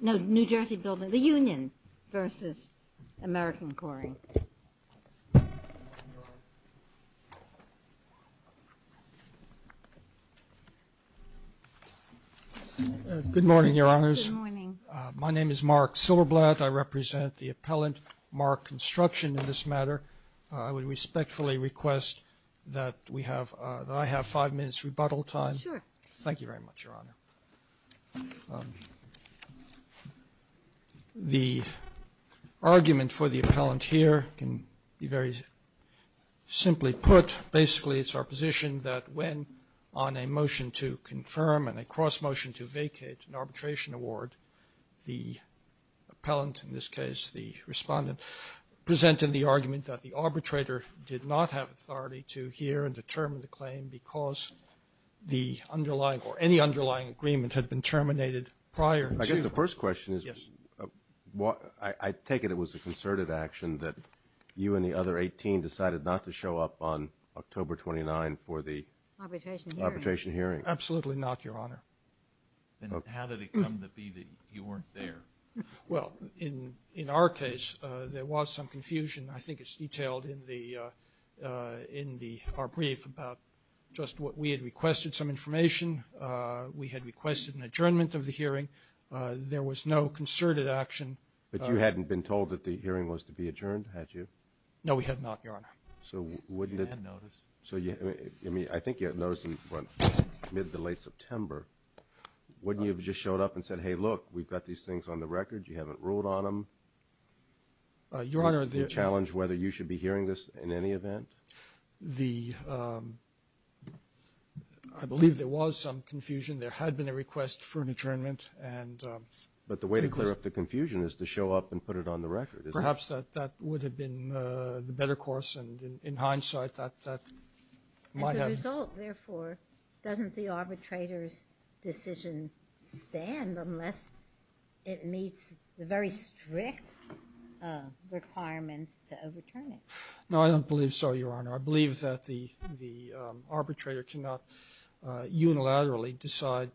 No, New Jersey Bldgv.The Union versus American Coring. Good morning, Your Honors. Good morning. My name is Mark Silverblatt. I represent the appellant, Mark Construction, in this matter. I would respectfully request that we have, that I have five minutes rebuttal time. Sure. Thank you very much, Your Honor. The argument for the appellant here can be very simply put. Basically, it's our position that when on a motion to confirm and a cross-motion to vacate an arbitration award, the appellant, in this case the respondent, presented the argument that the arbitrator did not have authority to hear and determine the claim because the underlying or any underlying agreement had been terminated prior. I guess the first question is, I take it it was a concerted action that you and the other 18 decided not to show up on October 29 for the arbitration hearing. Absolutely not, Your Honor. Then how did it come to be that you weren't there? Well, in our case, there was some confusion. I think it's detailed in our brief about just what we had requested, some information. We had requested an adjournment of the hearing. There was no concerted action. But you hadn't been told that the hearing was to be adjourned, had you? No, we had not, Your Honor. So I think you had noticed in mid to late September. Wouldn't you have just showed up and said, hey, look, we've got these things on the record. You haven't ruled on them? Your Honor, the – Do you challenge whether you should be hearing this in any event? The – I believe there was some confusion. There had been a request for an adjournment. But the way to clear up the confusion is to show up and put it on the record, isn't it? Perhaps that would have been the better course. And in hindsight, that might have – Doesn't the arbitrator's decision stand unless it meets the very strict requirements to overturn it? No, I don't believe so, Your Honor. I believe that the arbitrator cannot unilaterally decide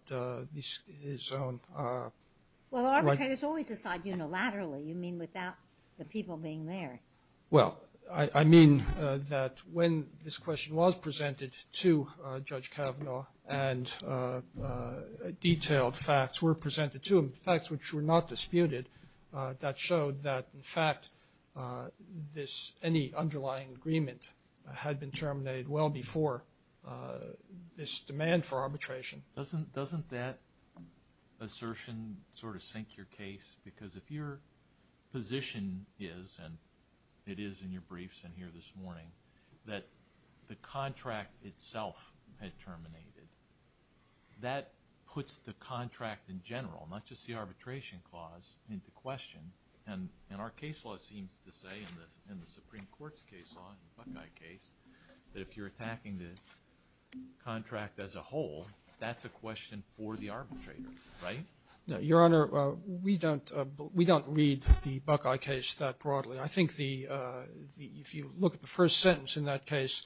his own – Well, arbitrators always decide unilaterally. You mean without the people being there. Well, I mean that when this question was presented to Judge Kavanaugh and detailed facts were presented to him, facts which were not disputed, that showed that, in fact, this – any underlying agreement had been terminated well before this demand for arbitration. Doesn't that assertion sort of sink your case? Because if your position is, and it is in your briefs in here this morning, that the contract itself had terminated, that puts the contract in general, not just the arbitration clause, into question. And our case law seems to say in the Supreme Court's case law, the Buckeye case, that if you're attacking the contract as a whole, that's a question for the arbitrator, right? No, Your Honor, we don't read the Buckeye case that broadly. I think if you look at the first sentence in that case,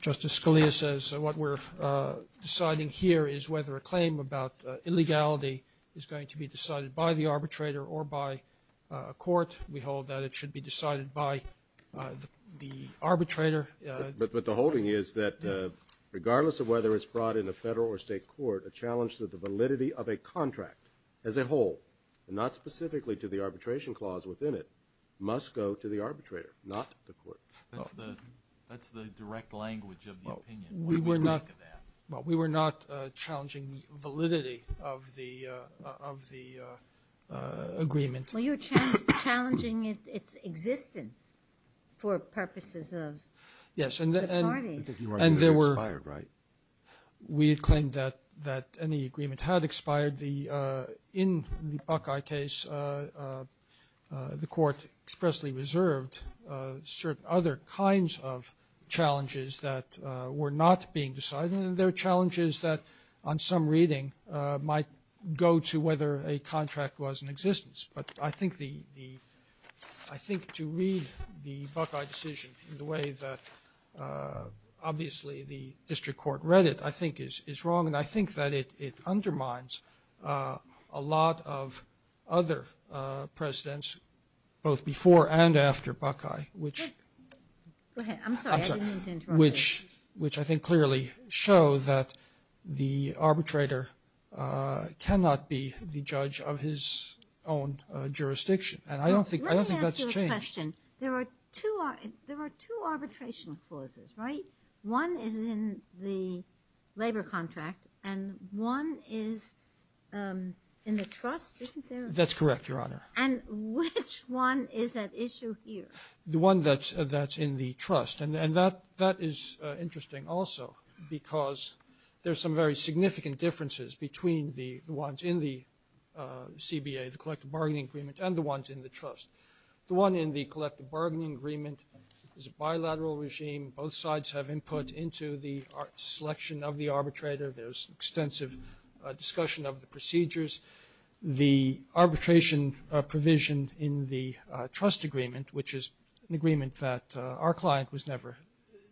Justice Scalia says what we're deciding here is whether a claim about illegality is going to be decided by the arbitrator or by a court. We hold that it should be decided by the arbitrator. But the holding is that regardless of whether it's brought in a federal or state court, a challenge to the validity of a contract as a whole, and not specifically to the arbitration clause within it, must go to the arbitrator, not the court. That's the direct language of the opinion. We were not challenging the validity of the agreement. Well, you're challenging its existence for purposes of the parties. Yes, and there were we had claimed that any agreement had expired. In the Buckeye case, the Court expressly reserved certain other kinds of challenges that were not being decided. And there are challenges that on some reading might go to whether a contract was in existence. But I think to read the Buckeye decision in the way that obviously the district court read it, I think is wrong, and I think that it undermines a lot of other presidents, both before and after Buckeye, which I think clearly shows that the arbitrator cannot be the judge of his own jurisdiction. And I don't think that's changed. Let me ask you a question. There are two arbitration clauses, right? One is in the labor contract and one is in the trust, isn't there? That's correct, Your Honor. And which one is at issue here? The one that's in the trust, and that is interesting also because there's some very significant differences between the ones in the CBA, the collective bargaining agreement, and the ones in the trust. The one in the collective bargaining agreement is a bilateral regime. Both sides have input into the selection of the arbitrator. There's extensive discussion of the procedures. The arbitration provision in the trust agreement, which is an agreement that our client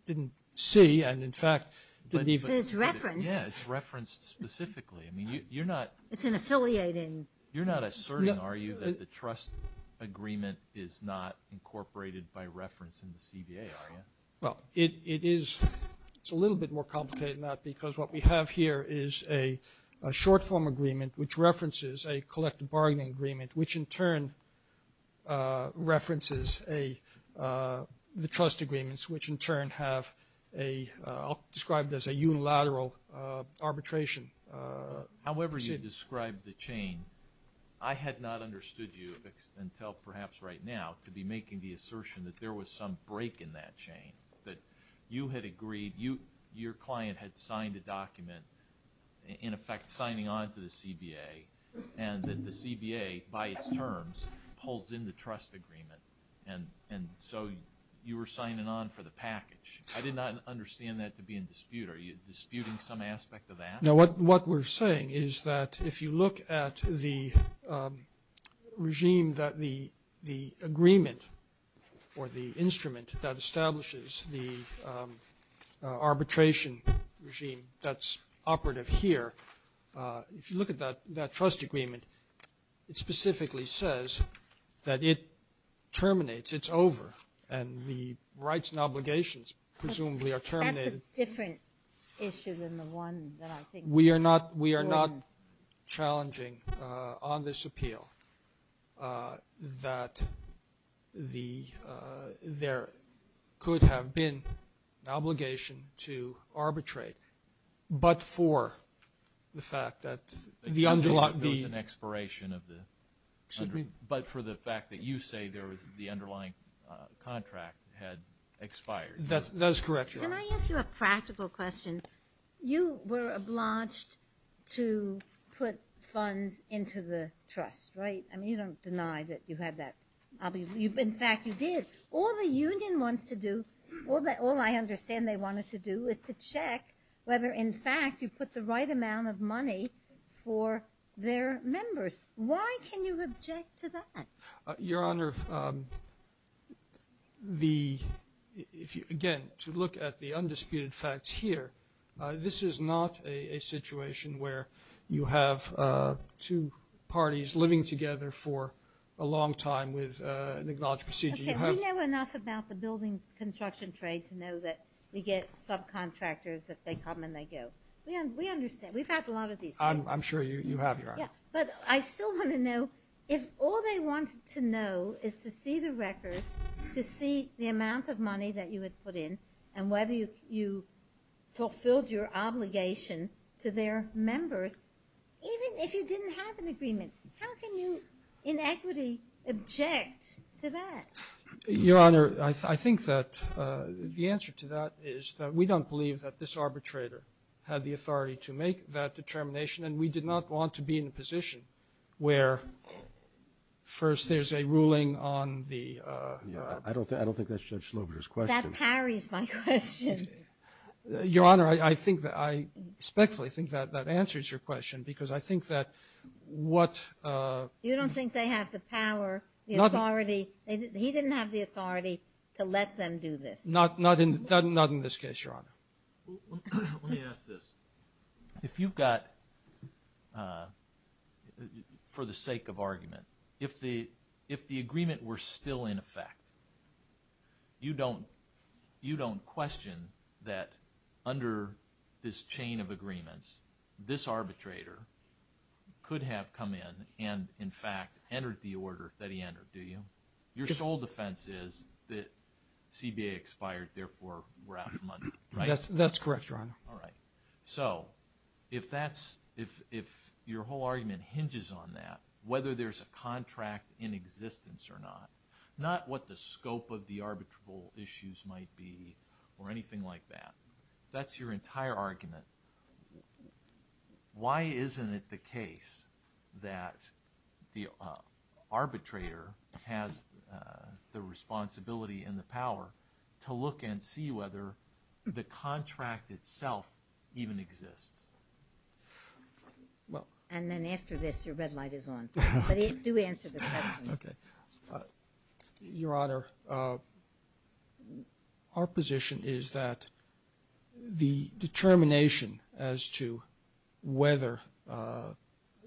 didn't see and, in fact, didn't even – But it's referenced. Yeah, it's referenced specifically. I mean, you're not – It's an affiliating – You're not asserting, are you, that the trust agreement is not incorporated by reference in the CBA, are you? Well, it is. It's a little bit more complicated than that because what we have here is a short form agreement, which references a collective bargaining agreement, which in turn references the trust agreements, which in turn have a – I'll describe it as a unilateral arbitration. However you describe the chain, I had not understood you until perhaps right now to be making the assertion that there was some break in that chain, that you had agreed – your client had signed a document, in effect, signing on to the CBA, and that the CBA, by its terms, holds in the trust agreement, and so you were signing on for the package. I did not understand that to be in dispute. Are you disputing some aspect of that? No, what we're saying is that if you look at the regime that the agreement or the instrument that establishes the arbitration regime that's operative here, if you look at that trust agreement, it specifically says that it terminates, it's over, and the rights and obligations presumably are terminated. That's a different issue than the one that I think is more important. We are not challenging on this appeal that there could have been an obligation to arbitrate, but for the fact that the underlying – There was an expiration of the – but for the fact that you say there was – the underlying contract had expired. That is correct, Your Honor. Can I ask you a practical question? You were obliged to put funds into the trust, right? I mean, you don't deny that you had that obligation. In fact, you did. All the union wants to do, all I understand they wanted to do, is to check whether, in fact, you put the right amount of money for their members. Why can you object to that? Your Honor, again, to look at the undisputed facts here, this is not a situation where you have two parties living together for a long time with an acknowledged procedure. Okay, we know enough about the building construction trade to know that we get subcontractors that they come and they go. We understand. We've had a lot of these cases. I'm sure you have, Your Honor. But I still want to know, if all they wanted to know is to see the records, to see the amount of money that you had put in and whether you fulfilled your obligation to their members, even if you didn't have an agreement, how can you in equity object to that? Your Honor, I think that the answer to that is that we don't believe that this arbitrator had the authority to make that determination, and we did not want to be in a position where, first, there's a ruling on the ---- I don't think that's Judge Slobider's question. That parries my question. Your Honor, I respectfully think that that answers your question because I think that what ---- You don't think they have the power, the authority. He didn't have the authority to let them do this. Not in this case, Your Honor. Let me ask this. If you've got, for the sake of argument, if the agreement were still in effect, you don't question that under this chain of agreements, this arbitrator could have come in and, in fact, entered the order that he entered, do you? Your sole defense is that CBA expired, therefore, we're out of money, right? That's correct, Your Honor. All right. So if your whole argument hinges on that, whether there's a contract in existence or not, not what the scope of the arbitrable issues might be or anything like that, if that's your entire argument, why isn't it the case that the arbitrator has the responsibility and the power to look and see whether the contract itself even exists? And then after this, your red light is on. But do answer the question. Okay. Your Honor, our position is that the determination as to whether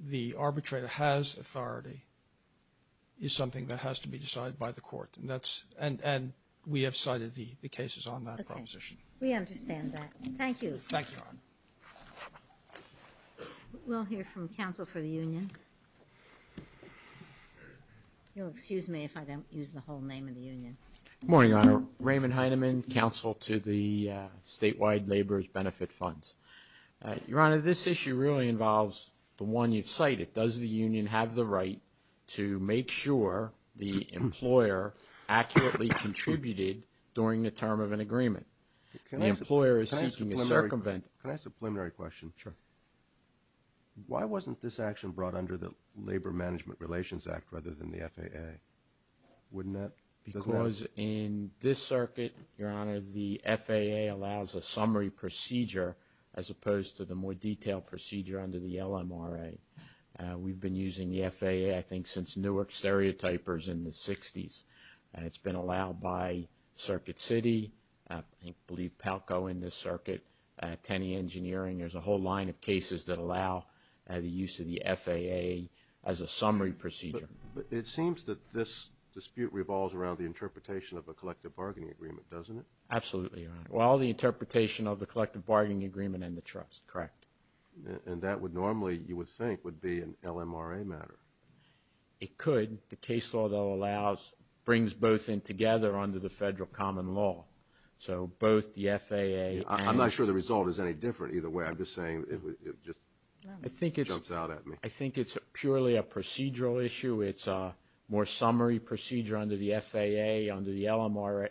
the arbitrator has authority is something that has to be decided by the court. And we have cited the cases on that proposition. Okay. We understand that. Thank you. Thank you, Your Honor. We'll hear from counsel for the union. You'll excuse me if I don't use the whole name of the union. Good morning, Your Honor. Raymond Heineman, counsel to the statewide laborers' benefit funds. Your Honor, this issue really involves the one you've cited. Does the union have the right to make sure the employer accurately contributed during the term of an agreement? The employer is seeking a circumvent. Can I ask a preliminary question? Sure. Why wasn't this action brought under the Labor Management Relations Act rather than the FAA? Because in this circuit, Your Honor, the FAA allows a summary procedure as opposed to the more detailed procedure under the LMRA. We've been using the FAA, I think, since Newark stereotypers in the 60s. It's been allowed by Circuit City, I believe Palco in this circuit, Tenney Engineering. There's a whole line of cases that allow the use of the FAA as a summary procedure. But it seems that this dispute revolves around the interpretation of a collective bargaining agreement, doesn't it? Absolutely, Your Honor. Well, the interpretation of the collective bargaining agreement and the trust, correct. And that would normally, you would think, would be an LMRA matter. It could. The case law, though, brings both in together under the federal common law. So both the FAA and— I'm not sure the result is any different either way. I'm just saying it just jumps out at me. I think it's purely a procedural issue. It's a more summary procedure under the FAA. Under the LMRA,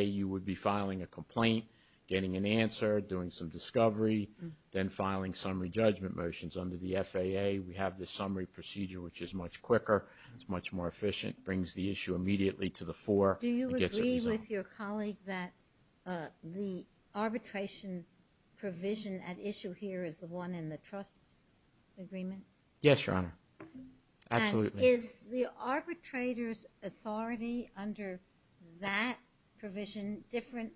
you would be filing a complaint, getting an answer, doing some discovery, then filing summary judgment motions under the FAA. We have this summary procedure, which is much quicker. It's much more efficient. It brings the issue immediately to the fore. Do you agree with your colleague that the arbitration provision at issue here is the one in the trust agreement? Yes, Your Honor. Absolutely. And is the arbitrator's authority under that provision different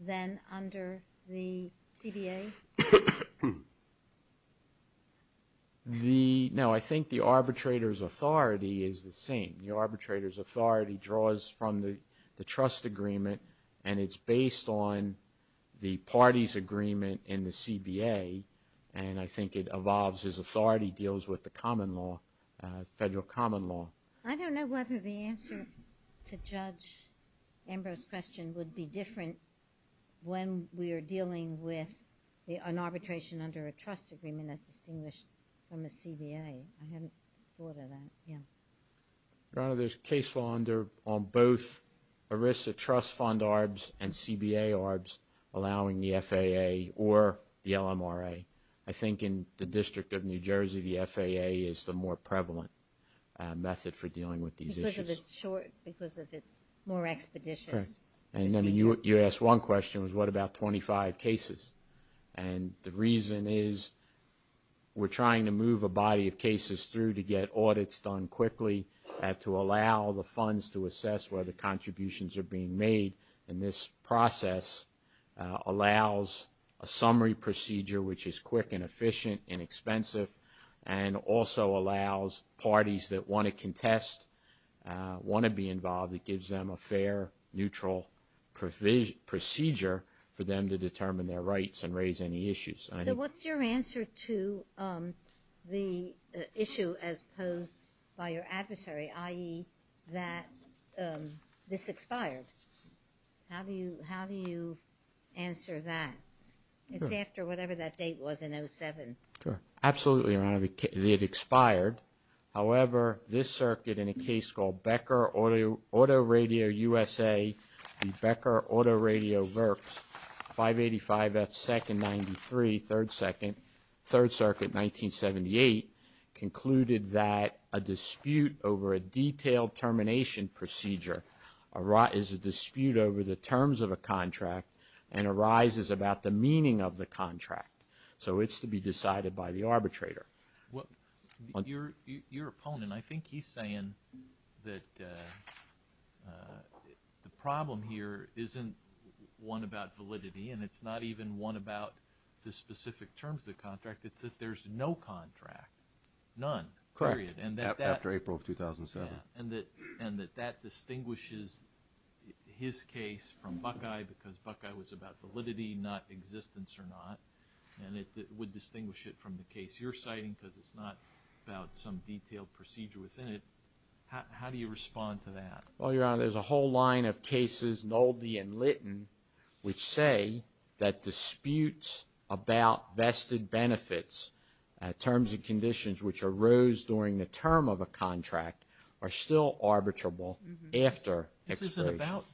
than under the CDA? No, I think the arbitrator's authority is the same. The arbitrator's authority draws from the trust agreement, and it's based on the party's agreement in the CBA, and I think it evolves as authority deals with the common law, federal common law. I don't know whether the answer to Judge Ambrose's question would be different when we are dealing with an arbitration under a trust agreement as distinguished from a CBA. I haven't thought of that. Your Honor, there's case law on both ERISA trust fund ARBs and CBA ARBs allowing the FAA or the LMRA. I think in the District of New Jersey, the FAA is the more prevalent method for dealing with these issues. Because of its more expeditious procedure. And you asked one question, was what about 25 cases? And the reason is we're trying to move a body of cases through to get audits done quickly to allow the funds to assess whether contributions are being made. And this process allows a summary procedure, which is quick and efficient and expensive, and also allows parties that want to contest, want to be involved, it gives them a fair, neutral procedure for them to determine their rights and raise any issues. So what's your answer to the issue as posed by your adversary, i.e., that this expired? How do you answer that? It's after whatever that date was in 07. Absolutely, Your Honor. It expired. However, this circuit in a case called Becker Auto Radio USA, the Becker Auto Radio Verks, 585F2-93, 3rd Circuit, 1978, concluded that a dispute over a detailed termination procedure is a dispute over the terms of a contract and arises about the meaning of the contract. So it's to be decided by the arbitrator. Your opponent, I think he's saying that the problem here isn't one about validity and it's not even one about the specific terms of the contract. It's that there's no contract, none, period. Correct, after April of 2007. And that that distinguishes his case from Buckeye because Buckeye was about validity, not existence or not, and it would distinguish it from the case. It's your citing because it's not about some detailed procedure within it. How do you respond to that? Well, Your Honor, there's a whole line of cases, Nolde and Litton, which say that disputes about vested benefits, terms and conditions which arose during the term of a contract, are still arbitrable after expiration. This isn't about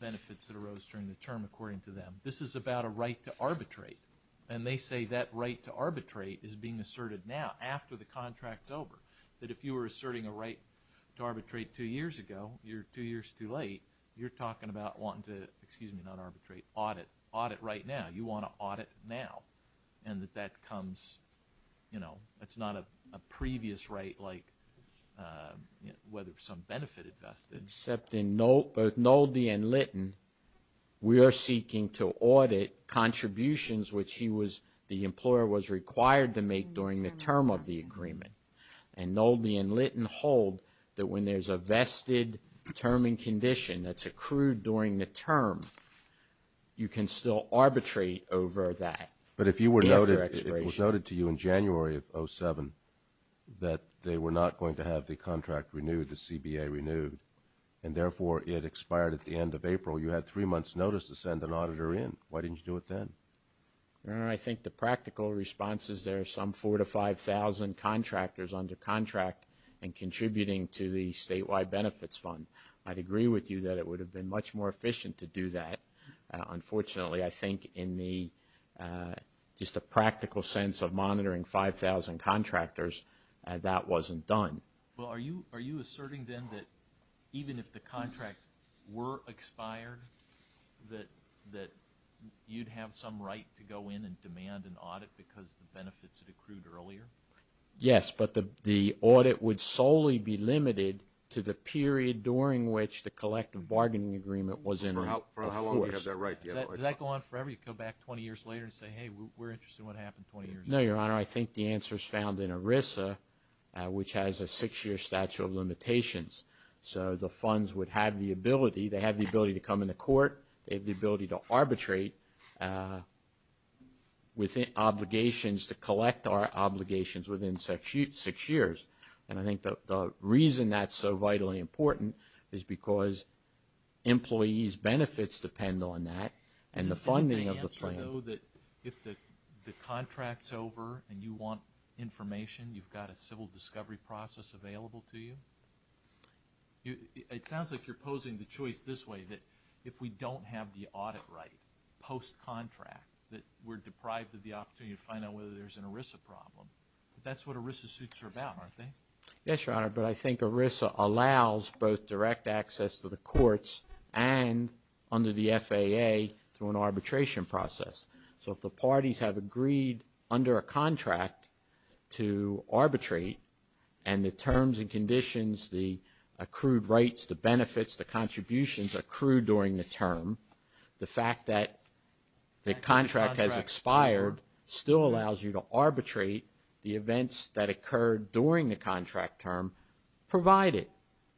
benefits that arose during the term, according to them. This is about a right to arbitrate. And they say that right to arbitrate is being asserted now, after the contract's over. That if you were asserting a right to arbitrate two years ago, you're two years too late. You're talking about wanting to, excuse me, not arbitrate, audit. Audit right now. You want to audit now. And that that comes, you know, that's not a previous right like whether some benefit invested. Except in both Nolde and Litton, we are seeking to audit contributions which he was, the employer was required to make during the term of the agreement. And Nolde and Litton hold that when there's a vested term and condition that's accrued during the term, you can still arbitrate over that. But if you were noted, it was noted to you in January of 07, that they were not going to have the contract renewed, the CBA renewed, and therefore it expired at the end of April. You had three months' notice to send an auditor in. Why didn't you do it then? I think the practical response is there are some 4,000 to 5,000 contractors under contract and contributing to the statewide benefits fund. I'd agree with you that it would have been much more efficient to do that. Unfortunately, I think in the, just the practical sense of monitoring 5,000 contractors, that wasn't done. Well, are you asserting then that even if the contract were expired, that you'd have some right to go in and demand an audit because the benefits had accrued earlier? Yes, but the audit would solely be limited to the period during which the collective bargaining agreement was in force. For how long would you have that right? Does that go on forever? You come back 20 years later and say, hey, we're interested in what happened 20 years later? No, Your Honor, I think the answer is found in ERISA, which has a six-year statute of limitations. So the funds would have the ability. They have the ability to come into court. They have the ability to arbitrate with obligations to collect our obligations within six years. And I think the reason that's so vitally important is because employees' benefits depend on that and the funding of the plan. So is it the answer, though, that if the contract's over and you want information, you've got a civil discovery process available to you? It sounds like you're posing the choice this way, that if we don't have the audit right post-contract, that we're deprived of the opportunity to find out whether there's an ERISA problem. But that's what ERISA suits are about, aren't they? Yes, Your Honor, but I think ERISA allows both direct access to the courts and under the FAA through an arbitration process. So if the parties have agreed under a contract to arbitrate and the terms and conditions, the accrued rights, the benefits, the contributions accrue during the term, the fact that the contract has expired still allows you to arbitrate the events that occurred during the contract term, provided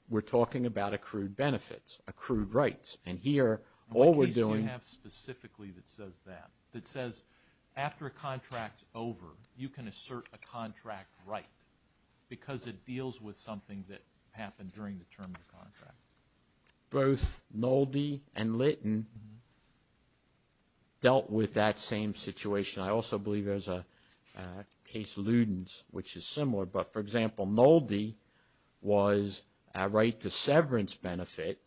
we're talking about accrued benefits, accrued rights. And here, all we're doing... What case do you have specifically that says that, that says after a contract's over, you can assert a contract right because it deals with something that happened during the term of the contract? Both Nolde and Litton dealt with that same situation. I also believe there's a case Ludens, which is similar. But, for example, Nolde was a right to severance benefit,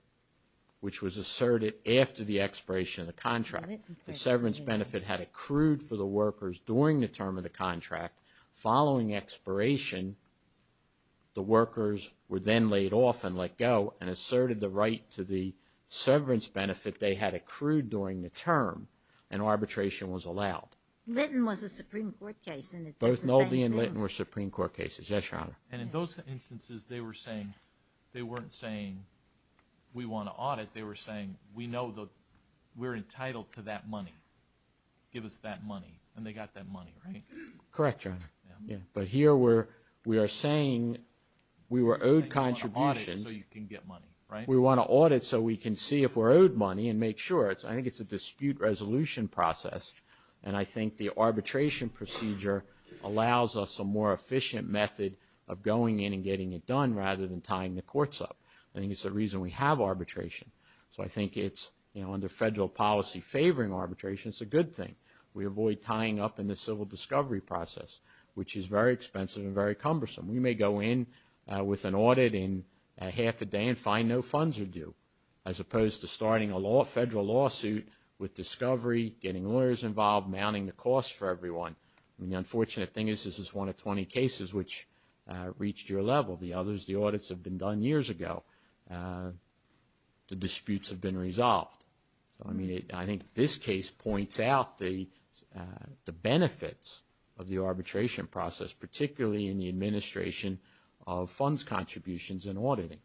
which was asserted after the expiration of the contract. The severance benefit had accrued for the workers during the term of the contract. Following expiration, the workers were then laid off and let go and asserted the right to the severance benefit they had accrued during the term and arbitration was allowed. Litton was a Supreme Court case and it's the same thing. Both Nolde and Litton were Supreme Court cases, yes, Your Honor. And in those instances, they were saying, they weren't saying, we want to audit. They were saying, we know that we're entitled to that money. Give us that money. And they got that money, right? Correct, Your Honor. But here, we are saying we were owed contributions. You're saying you want to audit it so you can get money, right? We want to audit it so we can see if we're owed money and make sure. I think it's a dispute resolution process and I think the arbitration procedure allows us a more efficient method of going in and getting it done rather than tying the courts up. I think it's the reason we have arbitration. So I think it's under federal policy favoring arbitration, it's a good thing. We avoid tying up in the civil discovery process, which is very expensive and very cumbersome. We may go in with an audit in half a day and find no funds are due as opposed to starting a federal lawsuit with discovery, getting lawyers involved, mounting the cost for everyone. The unfortunate thing is this is one of 20 cases which reached your level. The others, the audits have been done years ago. The disputes have been resolved. I think this case points out the benefits of the arbitration process, particularly in the administration of funds contributions and auditing.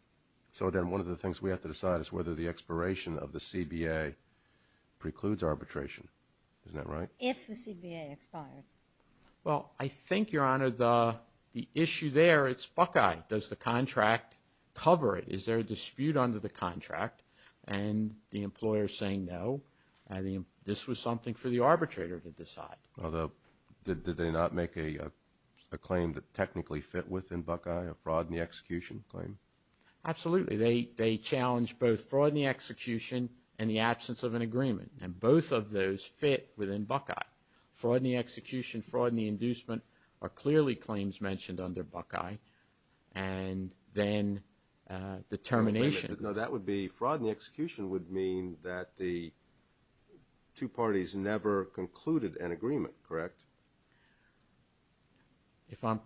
So then one of the things we have to decide is whether the expiration of the CBA precludes arbitration. Isn't that right? If the CBA expired. Well, I think, Your Honor, the issue there is Buckeye. Does the contract cover it? Is there a dispute under the contract and the employer saying no? This was something for the arbitrator to decide. Did they not make a claim that technically fit within Buckeye, a fraud in the execution claim? Absolutely. They challenged both fraud in the execution and the absence of an agreement, and both of those fit within Buckeye. Fraud in the execution, fraud in the inducement are clearly claims mentioned under Buckeye, and then determination. No, that would be fraud in the execution would mean that the two parties never concluded an agreement, correct? If I'm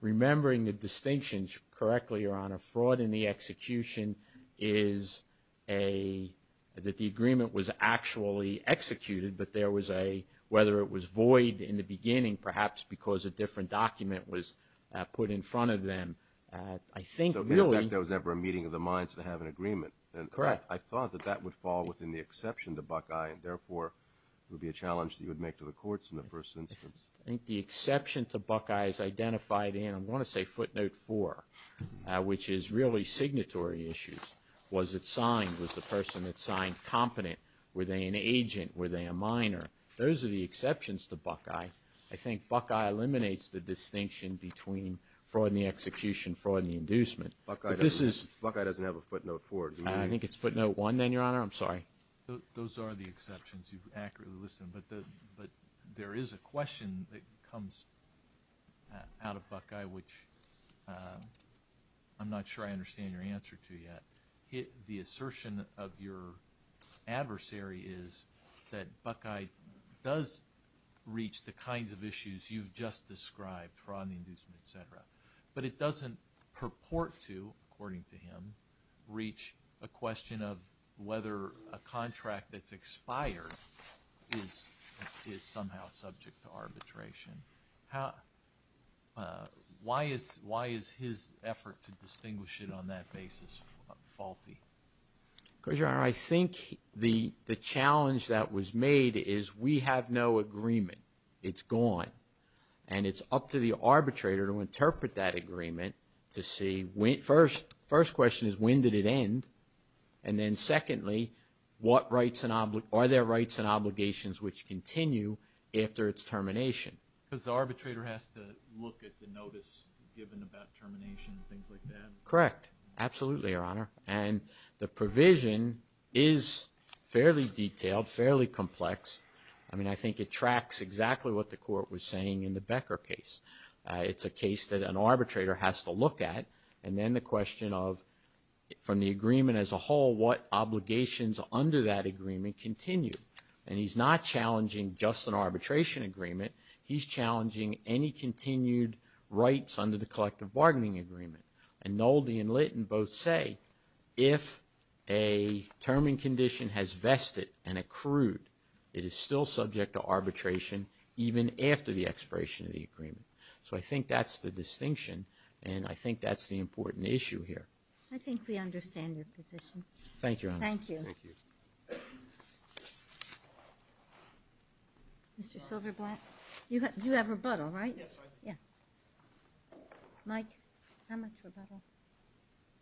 remembering the distinctions correctly, Your Honor, fraud in the execution is that the agreement was actually executed, but there was a whether it was void in the beginning, perhaps because a different document was put in front of them. I think really. So in effect there was never a meeting of the minds to have an agreement. Correct. I thought that that would fall within the exception to Buckeye, and therefore it would be a challenge that you would make to the courts in the first instance. I think the exception to Buckeye is identified in, I want to say, footnote 4, which is really signatory issues. Was it signed? Was the person that signed competent? Were they an agent? Were they a minor? Those are the exceptions to Buckeye. I think Buckeye eliminates the distinction between fraud in the execution, fraud in the inducement. Buckeye doesn't have a footnote 4. I think it's footnote 1 then, Your Honor. I'm sorry. Those are the exceptions you've accurately listed, but there is a question that comes out of Buckeye, which I'm not sure I understand your answer to yet. The assertion of your adversary is that Buckeye does reach the kinds of issues you've just described, fraud in the inducement, et cetera, but it doesn't purport to, according to him, reach a question of whether a contract that's expired is somehow subject to arbitration. Why is his effort to distinguish it on that basis faulty? Because, Your Honor, I think the challenge that was made is we have no agreement. It's gone, and it's up to the arbitrator to interpret that agreement to see. First question is when did it end? And then secondly, are there rights and obligations which continue after its termination? Because the arbitrator has to look at the notice given about termination and things like that. Correct. Absolutely, Your Honor. And the provision is fairly detailed, fairly complex. I mean, I think it tracks exactly what the court was saying in the Becker case. It's a case that an arbitrator has to look at. And then the question of, from the agreement as a whole, what obligations under that agreement continue? And he's not challenging just an arbitration agreement. He's challenging any continued rights under the collective bargaining agreement. And Nolde and Litton both say if a term and condition has vested and accrued, it is still subject to arbitration even after the expiration of the agreement. So I think that's the distinction, and I think that's the important issue here. I think we understand your position. Thank you, Your Honor. Thank you. Mr. Silverblatt, you have rebuttal, right? Yes, I do. Yeah. Mike, how much rebuttal?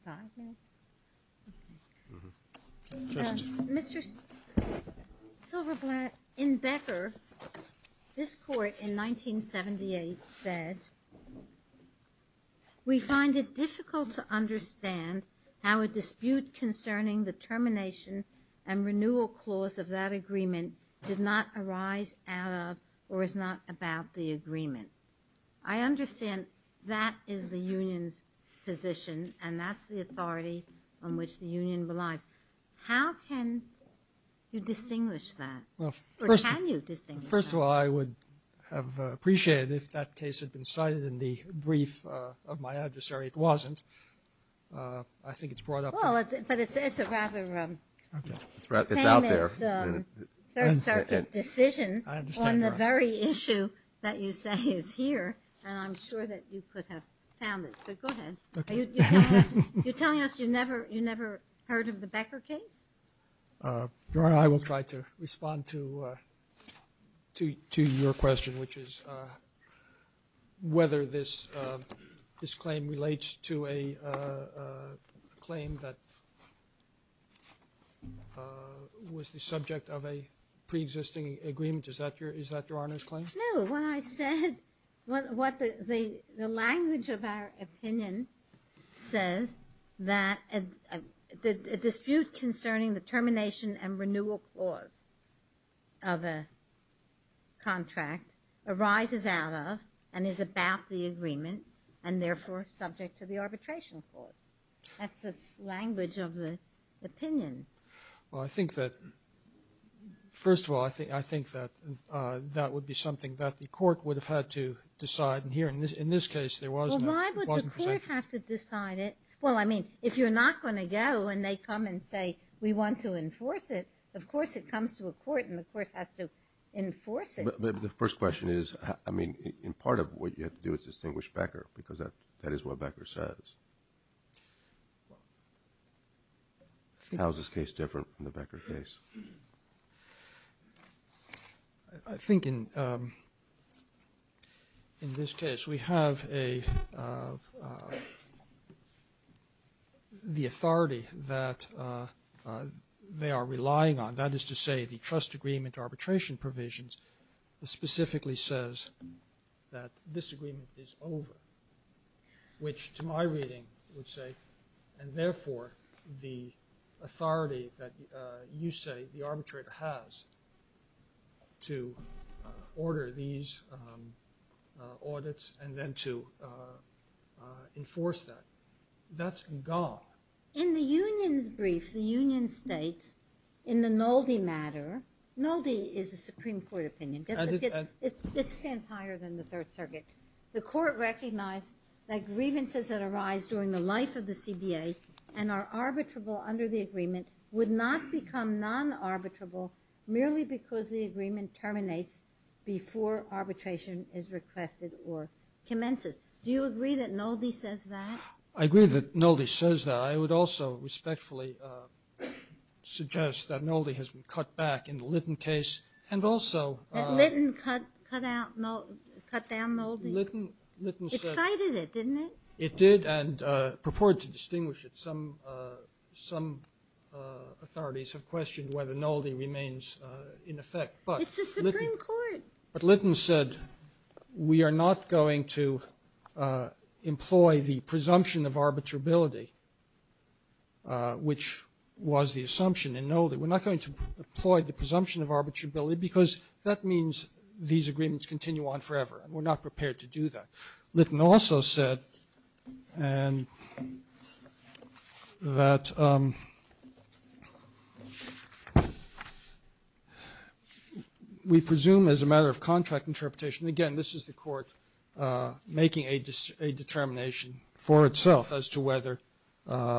Five minutes? Mm-hmm. Mr. Silverblatt, in Becker, this court in 1978 said, we find it difficult to understand how a dispute concerning the termination and renewal clause of that agreement did not arise out of or is not about the agreement. I understand that is the union's position, and that's the authority on which the union relies. How can you distinguish that, or can you distinguish that? First of all, I would have appreciated if that case had been cited in the brief of my adversary. It wasn't. I think it's brought up. Well, but it's a rather famous Third Circuit decision. I understand, Your Honor. And the very issue that you say is here, and I'm sure that you could have found it. But go ahead. You're telling us you never heard of the Becker case? Your Honor, I will try to respond to your question, which is whether this claim relates to a claim that was the subject of a preexisting agreement. Is that Your Honor's claim? No. What I said, the language of our opinion says that a dispute concerning the termination and renewal clause of a contract arises out of and is about the agreement and therefore subject to the arbitration clause. That's the language of the opinion. Well, I think that, first of all, I think that that would be something that the court would have had to decide. And here, in this case, there was no. Well, why would the court have to decide it? Well, I mean, if you're not going to go and they come and say we want to enforce it, of course it comes to a court and the court has to enforce it. But the first question is, I mean, in part of what you have to do is distinguish Becker because that is what Becker says. How is this case different from the Becker case? I think in this case we have the authority that they are relying on. That is to say the trust agreement arbitration provisions specifically says that this agreement is over, which to my reading would say, and therefore the authority that you say the arbitrator has to order these audits and then to enforce that, that's gone. In the union's brief, the union states in the Nolde matter, Nolde is a Supreme Court opinion. It stands higher than the Third Circuit. The court recognized that grievances that arise during the life of the CBA and are arbitrable under the agreement would not become non-arbitrable merely because the agreement terminates before arbitration is requested or commences. Do you agree that Nolde says that? I agree that Nolde says that. I would also respectfully suggest that Nolde has been cut back in the Litton case and also… That Litton cut down Nolde? It cited it, didn't it? It did and purported to distinguish it. Some authorities have questioned whether Nolde remains in effect. It's the Supreme Court. But Litton said we are not going to employ the presumption of arbitrability, which was the assumption in Nolde. We're not going to employ the presumption of arbitrability because that means these agreements continue on forever. We're not prepared to do that. Litton also said that we presume as a matter of contract interpretation. Again, this is the court making a determination for itself as to whether there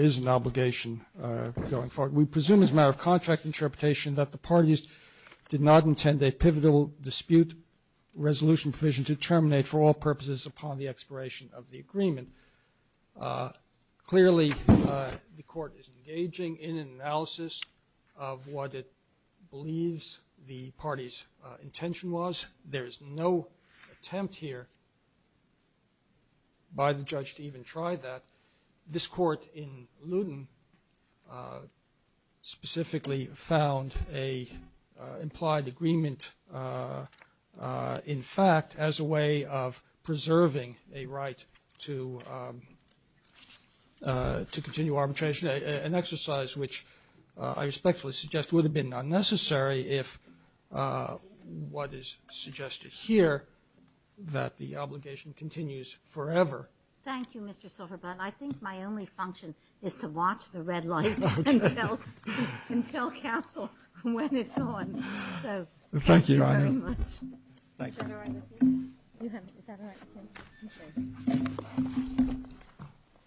is an arbitrability going forward. We presume as a matter of contract interpretation that the parties did not intend a pivotal dispute resolution provision to terminate for all purposes upon the expiration of the agreement. Clearly, the court is engaging in an analysis of what it believes the party's intention was. There is no attempt here by the judge to even try that. This court in Luton specifically found an implied agreement, in fact, as a way of preserving a right to continue arbitration, an exercise which I respectfully suggest would have been unnecessary if what is suggested here, that the obligation continues forever. Thank you, Mr. Silverberg. I think my only function is to watch the red light and tell counsel when it's on. Thank you very much.